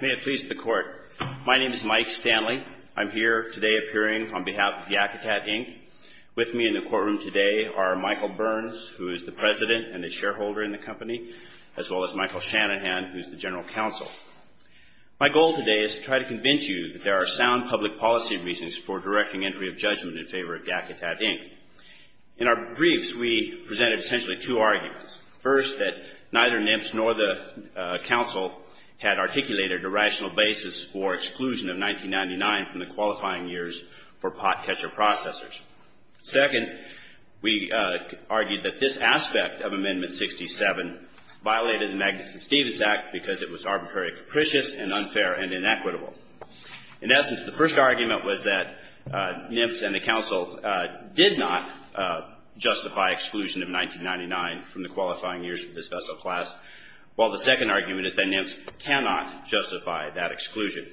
May it please the Court, my name is Mike Stanley. I'm here today appearing on behalf of Yakutat, Inc. With me in the courtroom today are Michael Burns, who is the President and a shareholder in the company, as well as Michael Shanahan, who is the General Counsel. My goal today is to try to convince you that there are sound public policy reasons for directing entry of judgment in favor of Yakutat, Inc. In our briefs, we presented essentially two arguments. First, that neither NIPS nor the counsel had articulated a rational basis for exclusion of 1999 from the qualifying years for pot catcher processors. Second, we argued that this aspect of Amendment 67 violated the Magnuson-Stevens Act because it was arbitrary capricious and unfair and inequitable. In essence, the first argument was that NIPS and the counsel did not justify exclusion of 1999 from the qualifying years for this vessel class, while the second argument is that NIPS cannot justify that exclusion.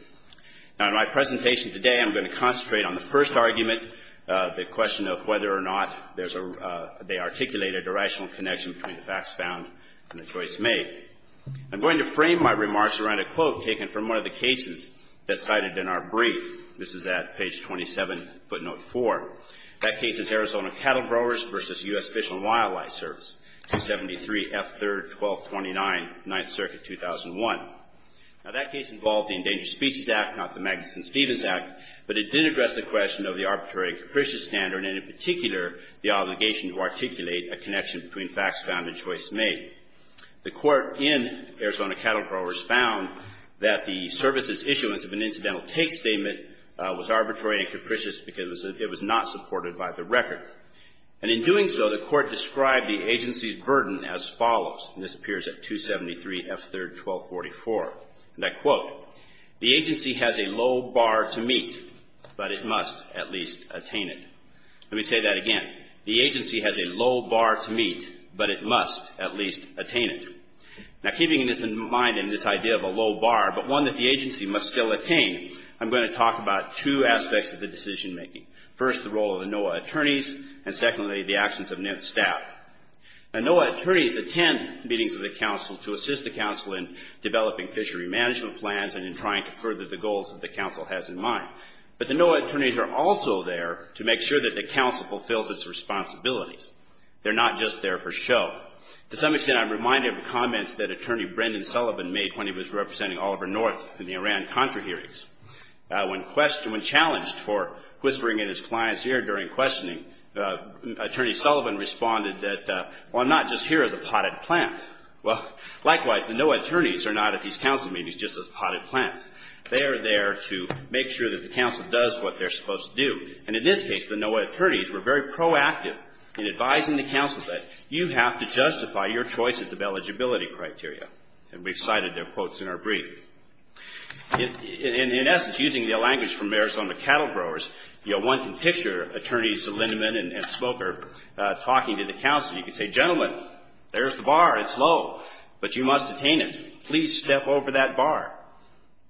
Now, in my presentation today, I'm going to concentrate on the first argument, the question of whether or not there's a — they articulated a rational connection between the facts found and the choice made. I'm going to frame my remarks around a quote taken from one of the cases that's cited in our brief. This is at page 27, footnote 4. That case is Arizona Cattle Growers v. U.S. Fish and Wildlife Service, 273 F. 3rd, 1229, 9th Circuit, 2001. Now, that case involved the Endangered Species Act, not the Magnuson-Stevens Act, but it did address the question of the arbitrary and capricious standard and, in particular, the obligation to articulate a connection between facts found and choice made. The court in Arizona Cattle Growers found that the service's issuance of an incidental take statement was arbitrary and capricious because it was not supported by the record. And in doing so, the court described the agency's burden as follows, and this appears at 273 F. 3rd, 1244. And I quote, The agency has a low bar to meet, but it must at least attain it. Let me say that again. The agency has a low bar to meet, but it must at least attain it. Now, keeping this in mind and this idea of a low bar, but one that the agency must still attain, I'm going to talk about two aspects of the decision-making. First, the role of the NOAA attorneys, and secondly, the actions of NIST staff. Now, NOAA attorneys attend meetings of the Council to assist the Council in developing fishery management plans and in trying to further the goals that the Council has in mind. But the NOAA attorneys are also there to make sure that the Council fulfills its responsibilities. They're not just there for show. To some extent, I'm reminded of the comments that Attorney Brendan Sullivan made when he was representing Oliver North in the Iran Contra hearings. When challenged for whispering in his client's ear during questioning, Attorney Sullivan responded that, well, I'm not just here as a potted plant. Well, likewise, the NOAA attorneys are not at these Council meetings just as potted plants. They are there to make sure that the Council does what they're supposed to do. And in this case, the NOAA attorneys were very proactive in advising the Council that you have to justify your choices of eligibility criteria. And we've cited their quotes in our brief. In essence, using the language from Arizona cattle growers, you know, one can picture Attorneys Lindeman and Smoker talking to the Council. You could say, gentlemen, there's the bar. It's low. But you must attain it. Please step over that bar.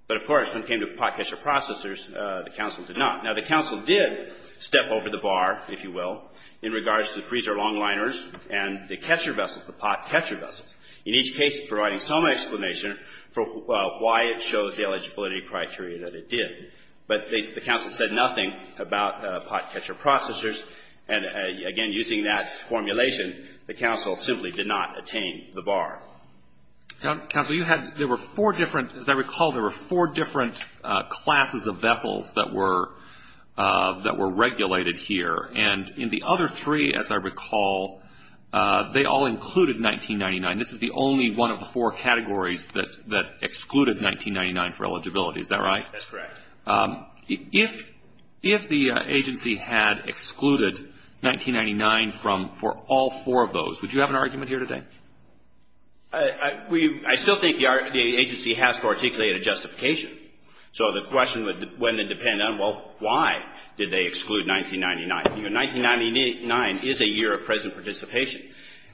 But, of course, when it came to pot catcher processors, the Council did not. Now, the Council did step over the bar, if you will, in regards to the freezer long liners and the catcher vessels, the pot catcher vessels. In each case, providing some explanation for why it shows the eligibility criteria that it did. But the Council said nothing about pot catcher processors. And, again, using that formulation, the Council simply did not attain the bar. Counsel, you had, there were four different, as I recall, there were four different classes of vessels that were regulated here. And in the other three, as I recall, they all included 1999. This is the only one of the four categories that excluded 1999 for eligibility. Is that right? That's correct. If the agency had excluded 1999 for all four of those, would you have an argument here today? I still think the agency has to articulate a justification. So the question would then depend on, well, why did they exclude 1999? You know, 1999 is a year of present participation.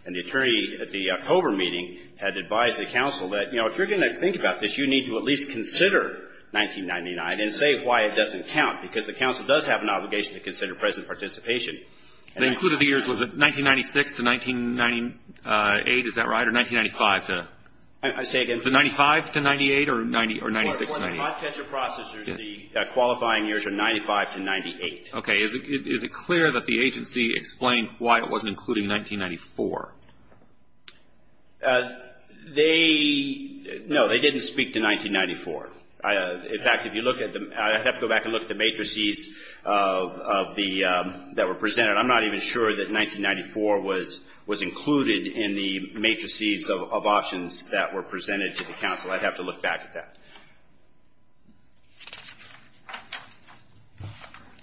And the attorney at the October meeting had advised the Council that, you know, if you're going to think about this, you need to at least consider 1999 and say why it doesn't count, because the Council does have an obligation to consider present participation. They included the years, was it 1996 to 1998, is that right, or 1995 to? I say again. The 95 to 98 or 96 to 98? For the pot catcher processors, the qualifying years are 95 to 98. Okay. Is it clear that the agency explained why it wasn't including 1994? They, no, they didn't speak to 1994. In fact, if you look at the, I'd have to go back and look at the matrices of the, that were presented. I'm not even sure that 1994 was included in the matrices of options that were presented to the Council. I'd have to look back at that.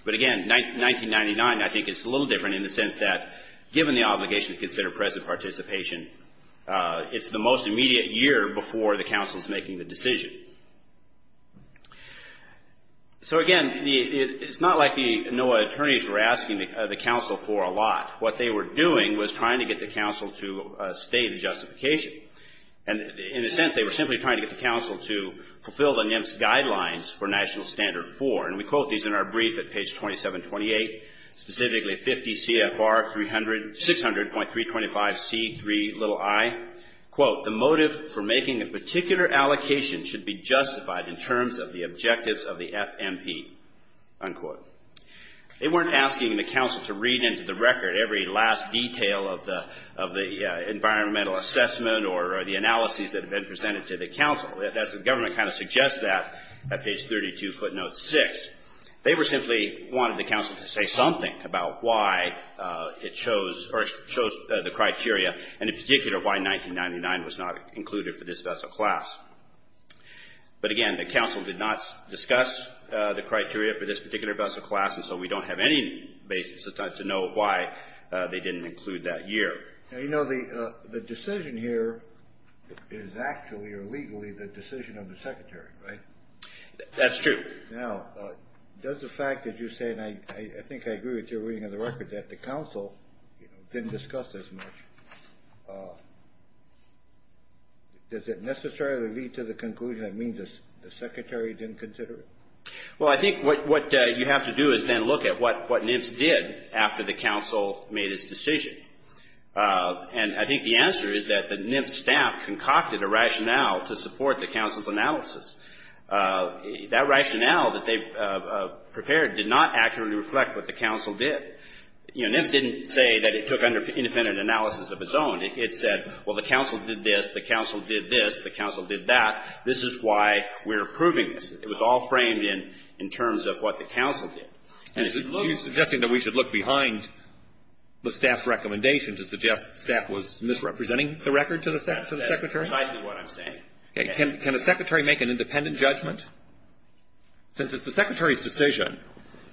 But again, 1999 I think is a little different in the sense that, given the obligation to consider present participation, it's the most immediate year before the Council is making the decision. So, again, it's not like the NOAA attorneys were asking the Council for a lot. What they were doing was trying to get the Council to state a justification. And in a sense, they were simply trying to get the Council to fulfill the NIEMS guidelines for National Standard 4. And we quote these in our brief at page 2728, specifically 50 CFR 600.325C3i, quote, the motive for making a particular allocation should be justified in terms of the objectives of the FMP, unquote. They weren't asking the Council to read into the record every last detail of the, of the environmental assessment or the analyses that have been presented to the Council. That's, the government kind of suggests that at page 32, footnote 6. They were simply wanting the Council to say something about why it chose, or chose the criteria, and in particular, why 1999 was not included for this vessel class. But, again, the Council did not discuss the criteria for this particular vessel class, and so we don't have any basis to know why they didn't include that year. Now, you know, the decision here is actually, or legally, the decision of the Secretary, right? That's true. Now, does the fact that you say, and I think I agree with your reading of the record, that the Council, you know, didn't discuss this much, does it necessarily lead to the conclusion that it means the Secretary didn't consider it? Well, I think what you have to do is then look at what NIFS did after the Council made its decision. And I think the answer is that the NIFS staff concocted a rationale to support the Council's analysis. That rationale that they prepared did not accurately reflect what the Council did. You know, NIFS didn't say that it took independent analysis of its own. It said, well, the Council did this. The Council did this. The Council did that. This is why we're approving this. It was all framed in terms of what the Council did. And if you look You're suggesting that we should look behind the staff's recommendation to suggest that the staff was misrepresenting the record to the Secretary? That's precisely what I'm saying. Can the Secretary make an independent judgment? Since it's the Secretary's decision,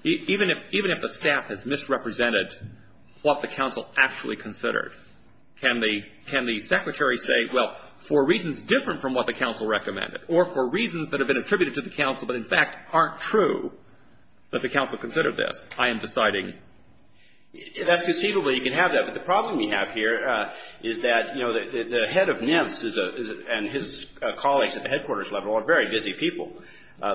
even if the staff has misrepresented what the Council actually considered, can the Secretary say, well, for reasons different from what the Council recommended, or for reasons that have been attributed to the Council but, in fact, aren't true, that the Council considered this, I am deciding? That's conceivable. You can have that. But the problem we have here is that, you know, the head of NIFS and his colleagues at the headquarters level are very busy people.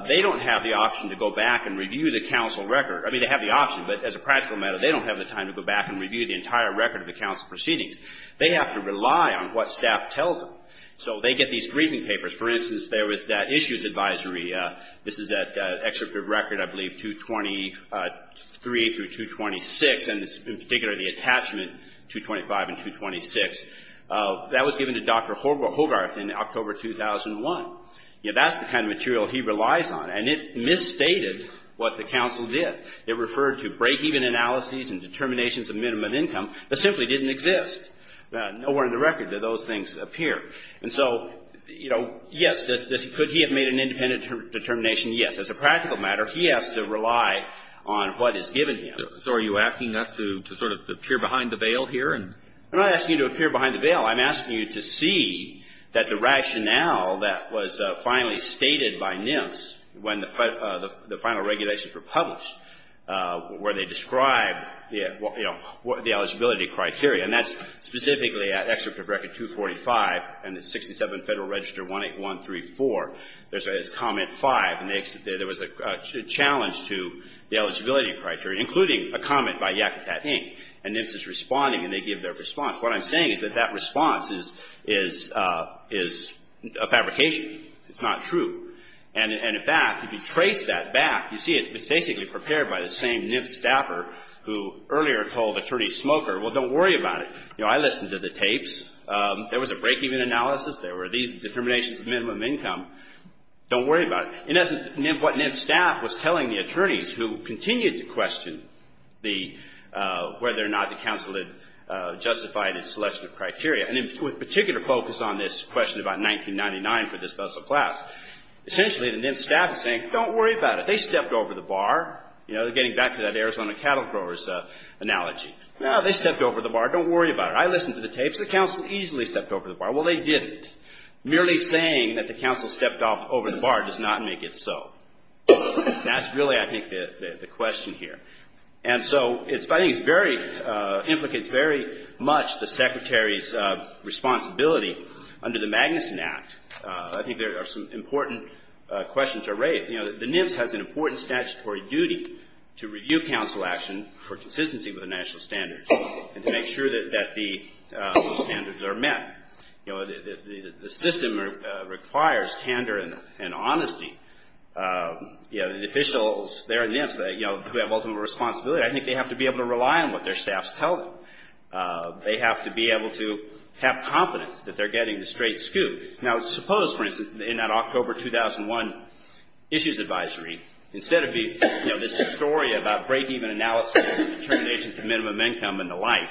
They don't have the option to go back and review the Council record. I mean, they have the option, but as a practical matter, they don't have the time to go back and review the entire record of the Council proceedings. They have to rely on what staff tells them. So they get these briefing papers. For instance, there was that issues advisory. This is that excerpt of record, I believe, 223 through 226. And in particular, the attachment 225 and 226. That was given to Dr. Hogarth in October 2001. You know, that's the kind of material he relies on. And it misstated what the Council did. It referred to breakeven analyses and determinations of minimum income that simply didn't exist. Nowhere in the record do those things appear. And so, you know, yes, could he have made an independent determination? Yes. As a practical matter, he has to rely on what is given to him. So are you asking us to sort of appear behind the veil here? I'm not asking you to appear behind the veil. I'm asking you to see that the rationale that was finally stated by NIS when the final regulations were published, where they described, you know, the eligibility criteria, and that's specifically at excerpt of record 245 and 67 Federal Register 18134. There's comment 5, and there was a challenge to the eligibility criteria, including a comment by Yakutat, Inc. And NIS is responding, and they give their response. What I'm saying is that that response is a fabrication. It's not true. And in fact, if you trace that back, you see it's basically prepared by the same NIS staffer who earlier told Attorney Smoker, well, don't worry about it. You know, I listened to the tapes. There was a breakeven analysis. There were these determinations of minimum income. Don't worry about it. In essence, what NIS staff was telling the attorneys who continued to question the whether or not the counsel had justified its selection of criteria, and in particular focused on this question about 1999 for this special class, essentially the NIS staff is saying, don't worry about it. They stepped over the bar, you know, getting back to that Arizona cattle growers analogy. No, they stepped over the bar. Don't worry about it. I listened to the tapes. The counsel easily stepped over the bar. Well, they didn't. Merely saying that the counsel stepped over the bar does not make it so. That's really, I think, the question here. And so I think it's very, implicates very much the secretary's responsibility under the Magnuson Act. I think there are some important questions that are raised. You know, the NIS has an important statutory duty to review counsel action for consistency with the national standards and to make sure that the standards are met. You know, the system requires candor and honesty. You know, the officials there in the NIS, you know, who have ultimate responsibility, I think they have to be able to rely on what their staffs tell them. They have to be able to have confidence that they're getting the straight scoop. Now, suppose, for instance, in that October 2001 issues advisory, instead of, you know, this story about breakeven analysis and determinations of minimum income and the like,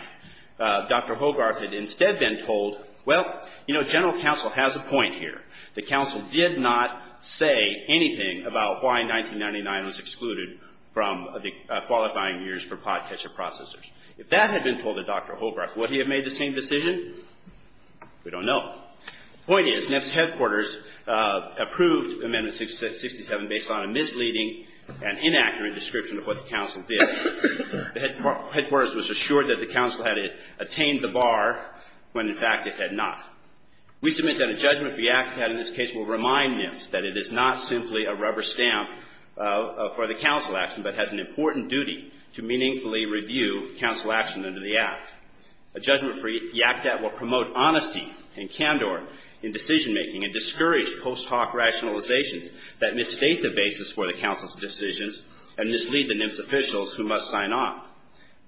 Dr. Hogarth had instead been told, well, you know, general counsel has a point here. The counsel did not say anything about why 1999 was excluded from the qualifying years for pot catcher processors. If that had been told to Dr. Hogarth, would he have made the same decision? We don't know. The point is, NIS headquarters approved Amendment 67 based on a misleading and inaccurate description of what the counsel did. The headquarters was assured that the counsel had attained the bar when, in fact, it had not. We submit that a judgment for YACDAT in this case will remind NIS that it is not simply a rubber stamp for the counsel action but has an important duty to meaningfully review counsel action under the Act. A judgment for YACDAT will promote honesty and candor in decision making and discourage post hoc rationalizations that misstate the basis for the counsel's decisions and mislead the NIS officials who must sign on.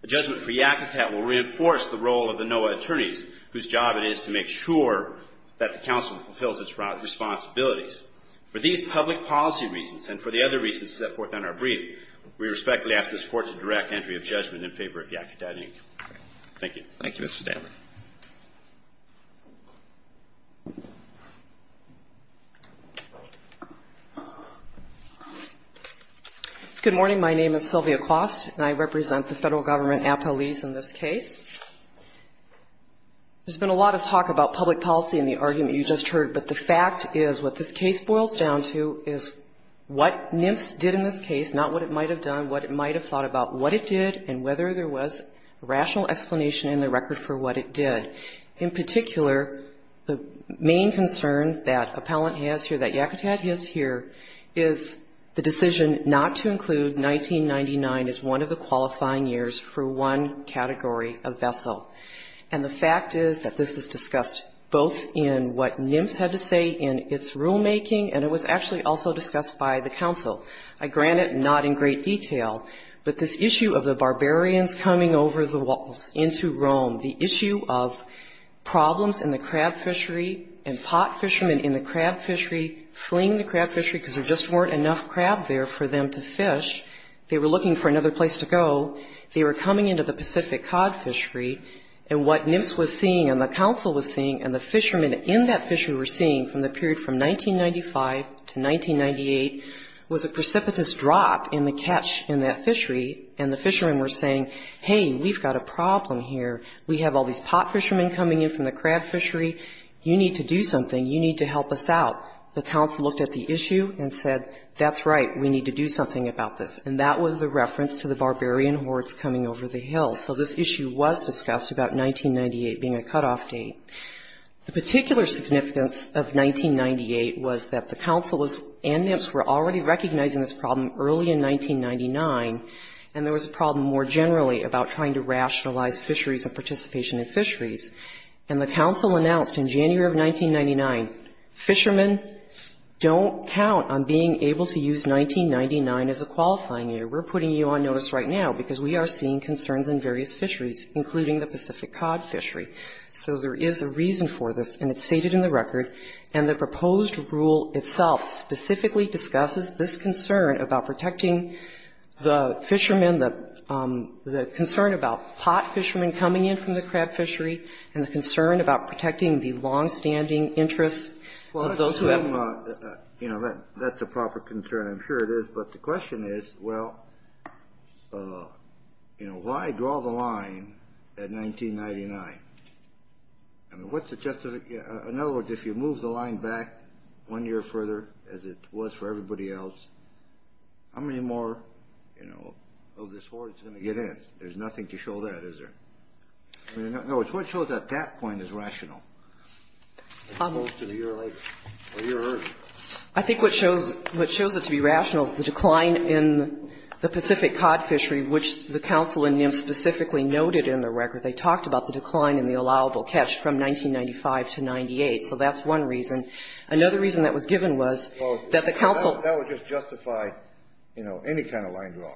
A judgment for YACDAT will reinforce the role of the NOAA attorneys whose job it is to make sure that the counsel fulfills its responsibilities. For these public policy reasons and for the other reasons set forth on our brief, we respectfully ask this Court to direct entry of judgment in favor of YACDAT, Thank you. Thank you, Ms. Stammer. Good morning. My name is Sylvia Quast, and I represent the Federal Government appellees in this case. There's been a lot of talk about public policy in the argument you just heard, but the fact is what this case boils down to is what NIS did in this case, not what it might have done, what it might have thought about what it did and whether there was rational explanation in the record for what it did. In particular, the main concern that appellant has here, that YACDAT has here, is the decision not to include 1999 as one of the qualifying years for one category of vessel. And the fact is that this is discussed both in what NIMFS had to say in its rulemaking and it was actually also discussed by the counsel. I grant it not in great detail, but this issue of the barbarians coming over the walls into Rome, the issue of problems in the crab fishery and pot fishermen in the crab fishery fleeing the crab fishery because there just weren't enough crab there for them to fish, they were looking for another place to go, they were coming into the Pacific cod fishery, and what NIMFS was seeing and the counsel was seeing and the precipitous drop in the catch in that fishery and the fishermen were saying, hey, we've got a problem here, we have all these pot fishermen coming in from the crab fishery, you need to do something, you need to help us out. The counsel looked at the issue and said, that's right, we need to do something about this. And that was the reference to the barbarian hordes coming over the hills. So this issue was discussed about 1998 being a cutoff date. The particular significance of 1998 was that the counsel and NIMFS were already recognizing this problem early in 1999, and there was a problem more generally about trying to rationalize fisheries and participation in fisheries. And the counsel announced in January of 1999, fishermen, don't count on being able to use 1999 as a qualifying year. We're putting you on notice right now because we are seeing concerns in various fisheries, including the Pacific cod fishery. So there is a reason for this, and it's stated in the record, and the proposed rule itself specifically discusses this concern about protecting the fishermen, the concern about pot fishermen coming in from the crab fishery, and the concern about protecting the longstanding interests of those who have them. That's a proper concern, I'm sure it is, but the question is, well, you know, why draw the line at 1999? I mean, what's the justification? In other words, if you move the line back one year further, as it was for everybody else, how many more, you know, of this horde is going to get in? There's nothing to show that, is there? In other words, what it shows at that point is rational. It goes to the year later, or a year earlier. I think what shows it to be rational is the decline in the Pacific cod fishery, which the Council and NIMS specifically noted in the record. They talked about the decline in the allowable catch from 1995 to 1998, so that's one reason. Another reason that was given was that the Council – That would just justify, you know, any kind of line draw,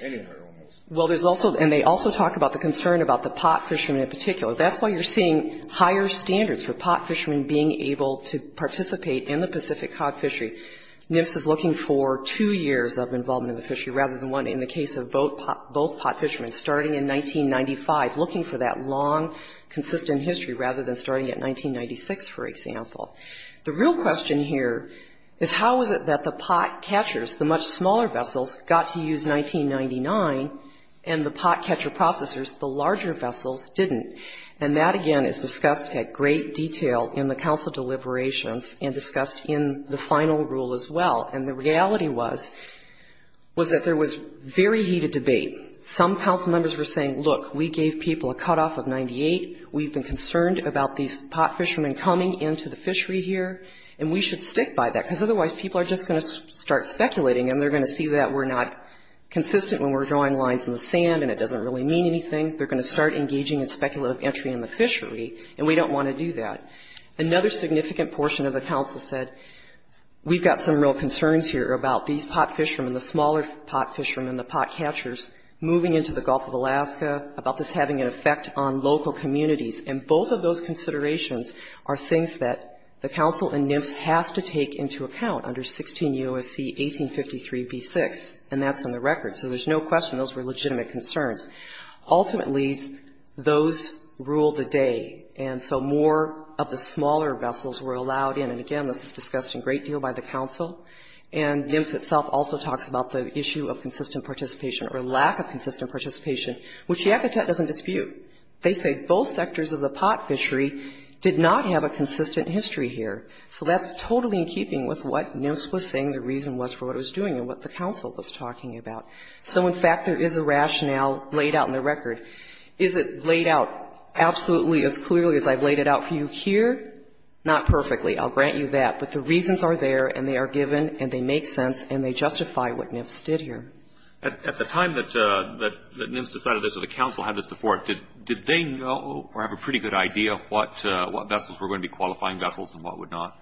any of their own rules. Well, there's also – and they also talk about the concern about the pot fishermen in particular. That's why you're seeing higher standards for pot fishermen being able to participate in the Pacific cod fishery. NIMS is looking for two years of involvement in the fishery rather than one. In the case of both pot fishermen, starting in 1995, looking for that long, consistent history rather than starting at 1996, for example. The real question here is how is it that the pot catchers, the much smaller vessels, got to use 1999, and the pot catcher processors, the larger vessels, didn't? And that, again, is discussed at great detail in the Council deliberations and discussed in the final rule as well. And the reality was, was that there was very heated debate. Some Council members were saying, look, we gave people a cutoff of 98. We've been concerned about these pot fishermen coming into the fishery here, and we should stick by that because otherwise people are just going to start speculating and they're going to see that we're not consistent when we're drawing lines in the sand and it doesn't really mean anything. They're going to start engaging in speculative entry in the fishery, and we don't want to do that. Another significant portion of the Council said, we've got some real concerns here about these pot fishermen, the smaller pot fishermen, the pot catchers, moving into the Gulf of Alaska, about this having an effect on local communities. And both of those considerations are things that the Council and NIFS has to take into account under 16 U.S.C. 1853b6, and that's on the record. So there's no question those were legitimate concerns. Ultimately, those ruled the day, and so more of the smaller vessels were allowed in. And, again, this is discussed a great deal by the Council, and NIFS itself also talks about the issue of consistent participation or lack of consistent participation, which Yakutet doesn't dispute. They say both sectors of the pot fishery did not have a consistent history here. So that's totally in keeping with what NIFS was saying the reason was for what it was doing and what the Council was talking about. So, in fact, there is a rationale laid out in the record. Is it laid out absolutely as clearly as I've laid it out for you here? Not perfectly. I'll grant you that. But the reasons are there, and they are given, and they make sense, and they justify what NIFS did here. At the time that NIFS decided this or the Council had this before, did they know or have a pretty good idea of what vessels were going to be qualifying vessels and what would not?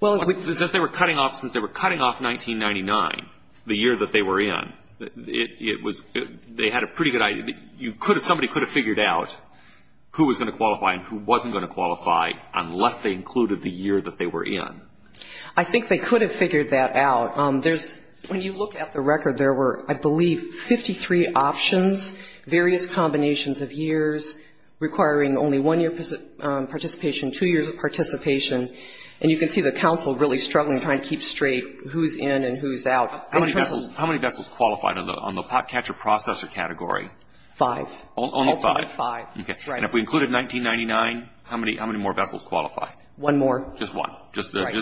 Well, if they were cutting off since they were cutting off 1999, the year that they were in, it was they had a pretty good idea. Somebody could have figured out who was going to qualify and who wasn't going to qualify unless they included the year that they were in. I think they could have figured that out. There's, when you look at the record, there were, I believe, 53 options, various combinations of years requiring only one year participation, two years of participation, and you can see the Council really struggling trying to keep straight who's in and who's out. How many vessels qualified on the pot catcher processor category? Five. Only five? Only five. Okay. And if we included 1999, how many more vessels qualified? One more. Just one? Right.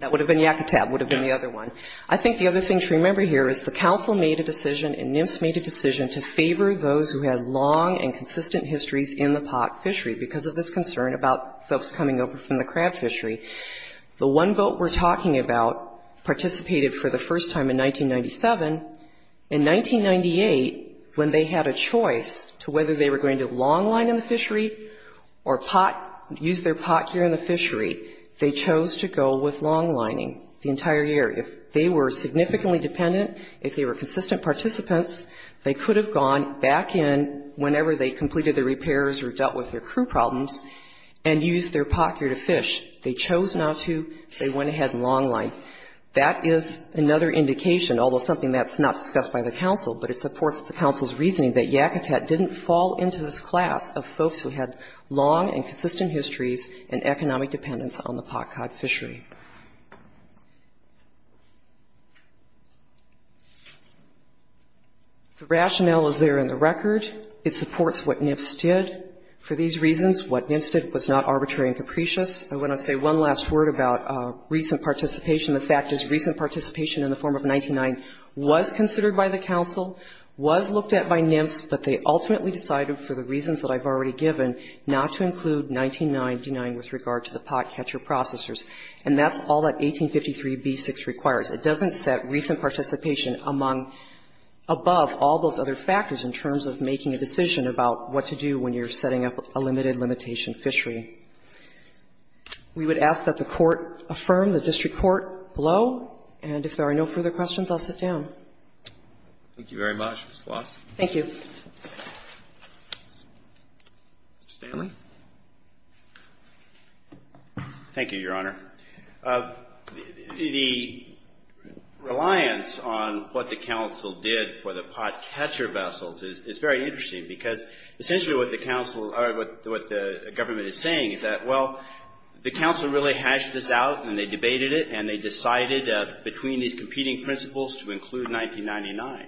That would have been Yakutab, would have been the other one. I think the other thing to remember here is the Council made a decision and NIFS made a decision to favor those who had long and consistent histories in the pot fishery because of this concern about folks coming over from the crab fishery. The one boat we're talking about participated for the first time in 1997. In 1998, when they had a choice to whether they were going to longline in the fishery or use their pot here in the fishery, they chose to go with longlining the entire year. If they were significantly dependent, if they were consistent participants, they could have gone back in whenever they completed their repairs or dealt with their crew problems and used their pot here to fish. They chose not to. They went ahead and longlined. That is another indication, although something that's not discussed by the Council, but it supports the Council's reasoning that Yakutab didn't fall into this class of folks who had long and consistent histories and economic dependence on the pot cod fishery. The rationale is there in the record. It supports what NIFS did. For these reasons, what NIFS did was not arbitrary and capricious. I want to say one last word about recent participation. The fact is recent participation in the form of 99 was considered by the Council, was looked at by NIFS, but they ultimately decided, for the reasons that I've already given, not to include 199 denying with regard to the pot catcher processors. And that's all that 1853b6 requires. It doesn't set recent participation among, above all those other factors in terms of making a decision about what to do when you're setting up a limited limitation fishery. We would ask that the Court affirm, the district court below, and if there are no further questions, I'll sit down. Thank you very much, Ms. Gloss. Thank you. Mr. Stanley. Thank you, Your Honor. The reliance on what the Council did for the pot catcher vessels is very interesting because essentially what the Council or what the government is saying is that, well, the Council really hashed this out and they debated it and they decided between these competing principles to include 1999.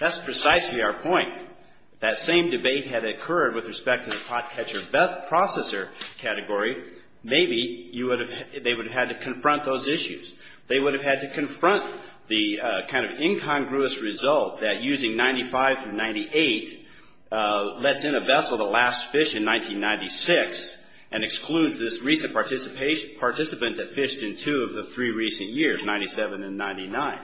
That's precisely our point. If that same debate had occurred with respect to the pot catcher processor category, maybe they would have had to confront those issues. They would have had to confront the kind of incongruous result that using 95 and 98 lets in a vessel that last fished in 1996 and excludes this recent participant that fished in two of the three recent years, 97 and 99.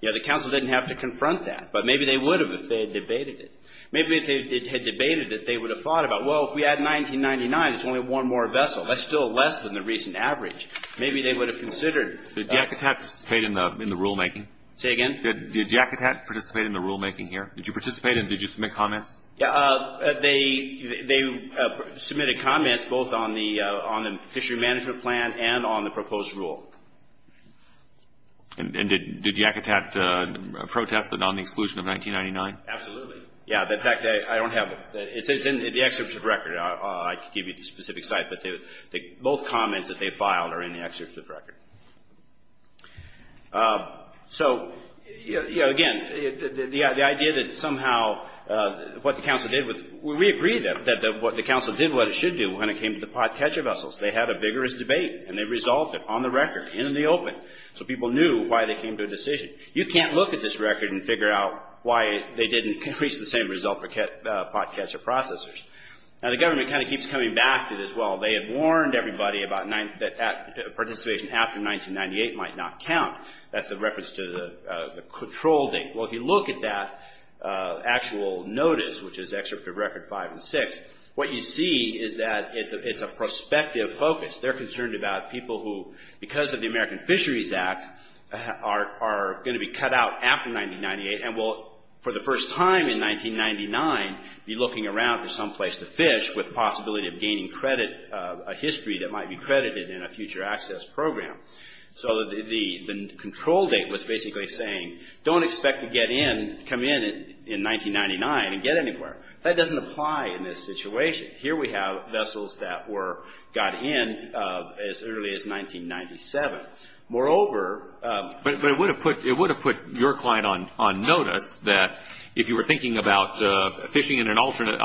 You know, the Council didn't have to confront that. But maybe they would have if they had debated it. Maybe if they had debated it, they would have thought about, well, if we add 1999, it's only one more vessel. That's still less than the recent average. Maybe they would have considered. Did Yakutat participate in the rulemaking? Say again? Did Yakutat participate in the rulemaking here? Did you participate and did you submit comments? They submitted comments both on the fishery management plan and on the proposed rule. And did Yakutat protest it on the exclusion of 1999? Absolutely. Yeah, the fact that I don't have it. It's in the excerpt of the record. I can give you the specific site. But both comments that they filed are in the excerpt of the record. So, you know, again, the idea that somehow what the Council did with, we agree that what the Council did what it should do when it came to the pot catcher vessels. They had a vigorous debate and they resolved it on the record, in the open, so people knew why they came to a decision. You can't look at this record and figure out why they didn't reach the same result for pot catcher processors. Now, the government kind of keeps coming back to this. Well, they had warned everybody that participation after 1998 might not count. That's the reference to the control date. Well, if you look at that actual notice, which is excerpt of record five and six, what you see is that it's a prospective focus. They're concerned about people who, because of the American Fisheries Act, are going to be cut out after 1998 and will, for the first time in 1999, be looking around for someplace to fish with the possibility of gaining credit, a history that might be credited in a future access program. So the control date was basically saying don't expect to get in, come in, in 1999 and get anywhere. That doesn't apply in this situation. Here we have vessels that were, got in as early as 1997. But it would have put your client on notice that if you were thinking about fishing in an alternate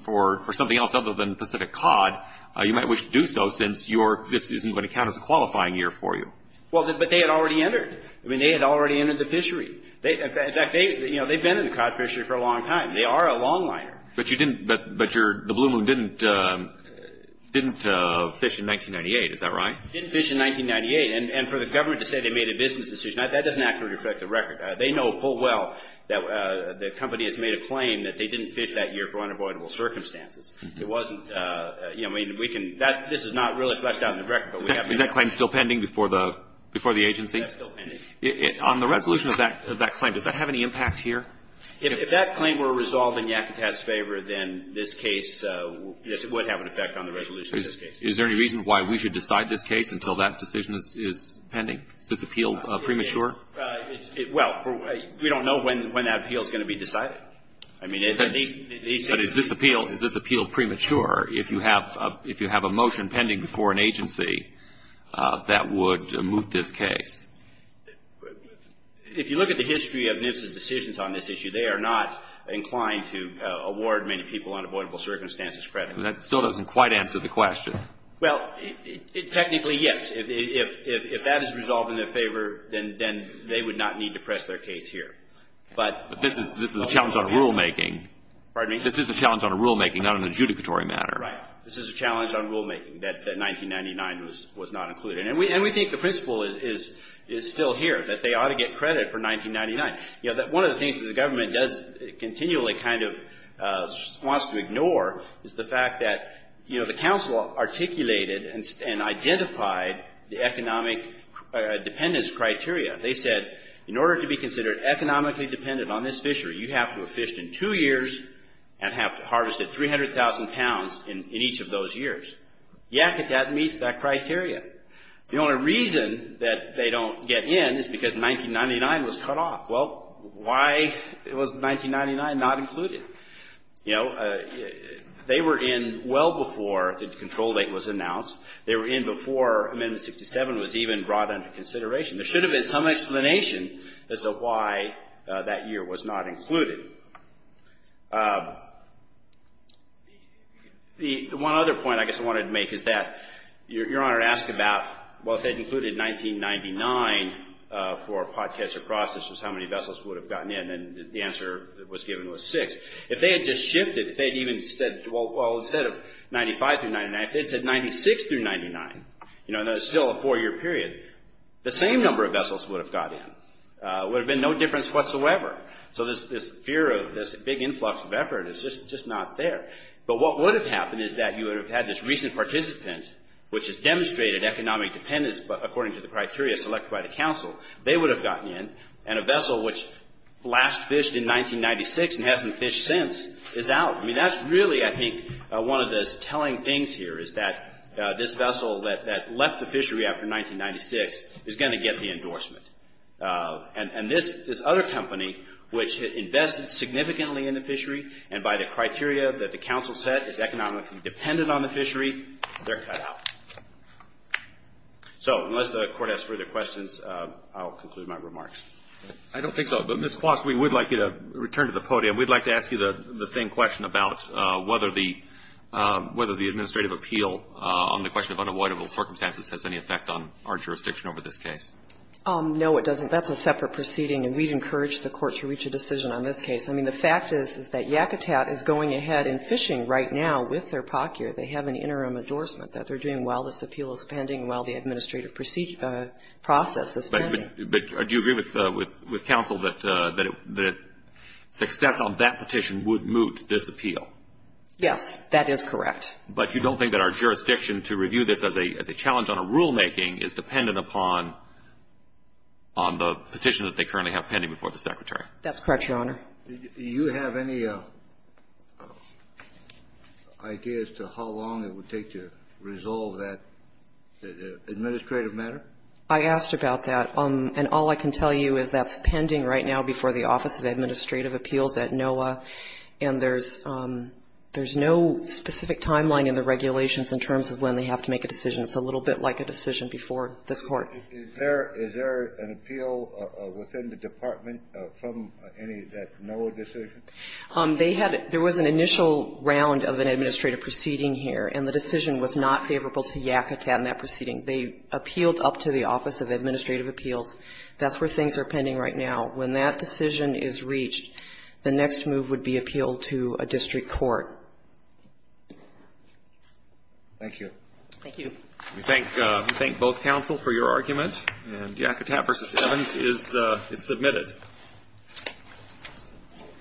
for something else other than Pacific cod, you might wish to do so since this isn't going to count as a qualifying year for you. Well, but they had already entered. I mean, they had already entered the fishery. In fact, they've been in the cod fishery for a long time. They are a longliner. But the Blue Moon didn't fish in 1998. Is that right? They didn't fish in 1998. And for the government to say they made a business decision, that doesn't accurately reflect the record. They know full well that the company has made a claim that they didn't fish that year for unavoidable circumstances. It wasn't, you know, I mean, we can, this is not really fleshed out in the record. Is that claim still pending before the agency? That's still pending. On the resolution of that claim, does that have any impact here? If that claim were resolved in Yakutat's favor, then this case, this would have an effect on the resolution of this case. Is there any reason why we should decide this case until that decision is pending? Is this appeal premature? Well, we don't know when that appeal is going to be decided. But is this appeal premature if you have a motion pending before an agency that would moot this case? If you look at the history of NIFS's decisions on this issue, they are not inclined to award many people unavoidable circumstances credit. That still doesn't quite answer the question. Well, technically, yes. If that is resolved in their favor, then they would not need to press their case here. But this is a challenge on rulemaking. Pardon me? This is a challenge on rulemaking, not an adjudicatory matter. Right. This is a challenge on rulemaking that 1999 was not included. And we think the principle is still here, that they ought to get credit for 1999. You know, one of the things that the government does continually kind of wants to ignore is the fact that, you know, the council articulated and identified the economic dependence criteria. They said in order to be considered economically dependent on this fishery, you have to have fished in two years and have harvested 300,000 pounds in each of those years. Yeah, that meets that criteria. The only reason that they don't get in is because 1999 was cut off. Well, why was 1999 not included? You know, they were in well before the control date was announced. They were in before Amendment 67 was even brought under consideration. There should have been some explanation as to why that year was not included. The one other point I guess I wanted to make is that Your Honor asked about, well, if they'd included 1999 for a pot catcher process, how many vessels would have gotten in? And the answer that was given was six. If they had just shifted, if they'd even said, well, instead of 95 through 99, if they'd said 96 through 99, you know, that's still a four-year period, the same number of vessels would have got in. It would have been no difference whatsoever. So this fear of this big influx of effort is just not there. But what would have happened is that you would have had this recent participant, which has demonstrated economic dependence according to the criteria selected by the counsel, they would have gotten in, and a vessel which last fished in 1996 and hasn't fished since is out. I mean, that's really, I think, one of the telling things here is that this vessel that left the fishery after 1996 is going to get the endorsement. And this other company, which invested significantly in the fishery, and by the criteria that the counsel set is economically dependent on the fishery, they're cut out. So unless the Court has further questions, I'll conclude my remarks. I don't think so. But, Ms. Klost, we would like you to return to the podium. We'd like to ask you the same question about whether the administrative appeal on the question of unavoidable circumstances has any effect on our jurisdiction over this case. No, it doesn't. That's a separate proceeding, and we'd encourage the Court to reach a decision on this case. I mean, the fact is, is that Yakutat is going ahead and fishing right now with their POC year. They have an interim endorsement that they're doing while this appeal is pending, while the administrative process is pending. But do you agree with counsel that success on that petition would moot this appeal? Yes, that is correct. But you don't think that our jurisdiction to review this as a challenge on a rulemaking is dependent upon the petition that they currently have pending before the Secretary? That's correct, Your Honor. Do you have any ideas to how long it would take to resolve that administrative matter? I asked about that. And all I can tell you is that's pending right now before the Office of Administrative Appeals at NOAA, and there's no specific timeline in the regulations in terms of when they have to make a decision. It's a little bit like a decision before this Court. Is there an appeal within the department from any of that NOAA decision? They had to – there was an initial round of an administrative proceeding here, and the decision was not favorable to Yakutat in that proceeding. They appealed up to the Office of Administrative Appeals. That's where things are pending right now. When that decision is reached, the next move would be appeal to a district court. Thank you. Thank you. We thank both counsel for your argument, and Yakutat v. Evans is submitted.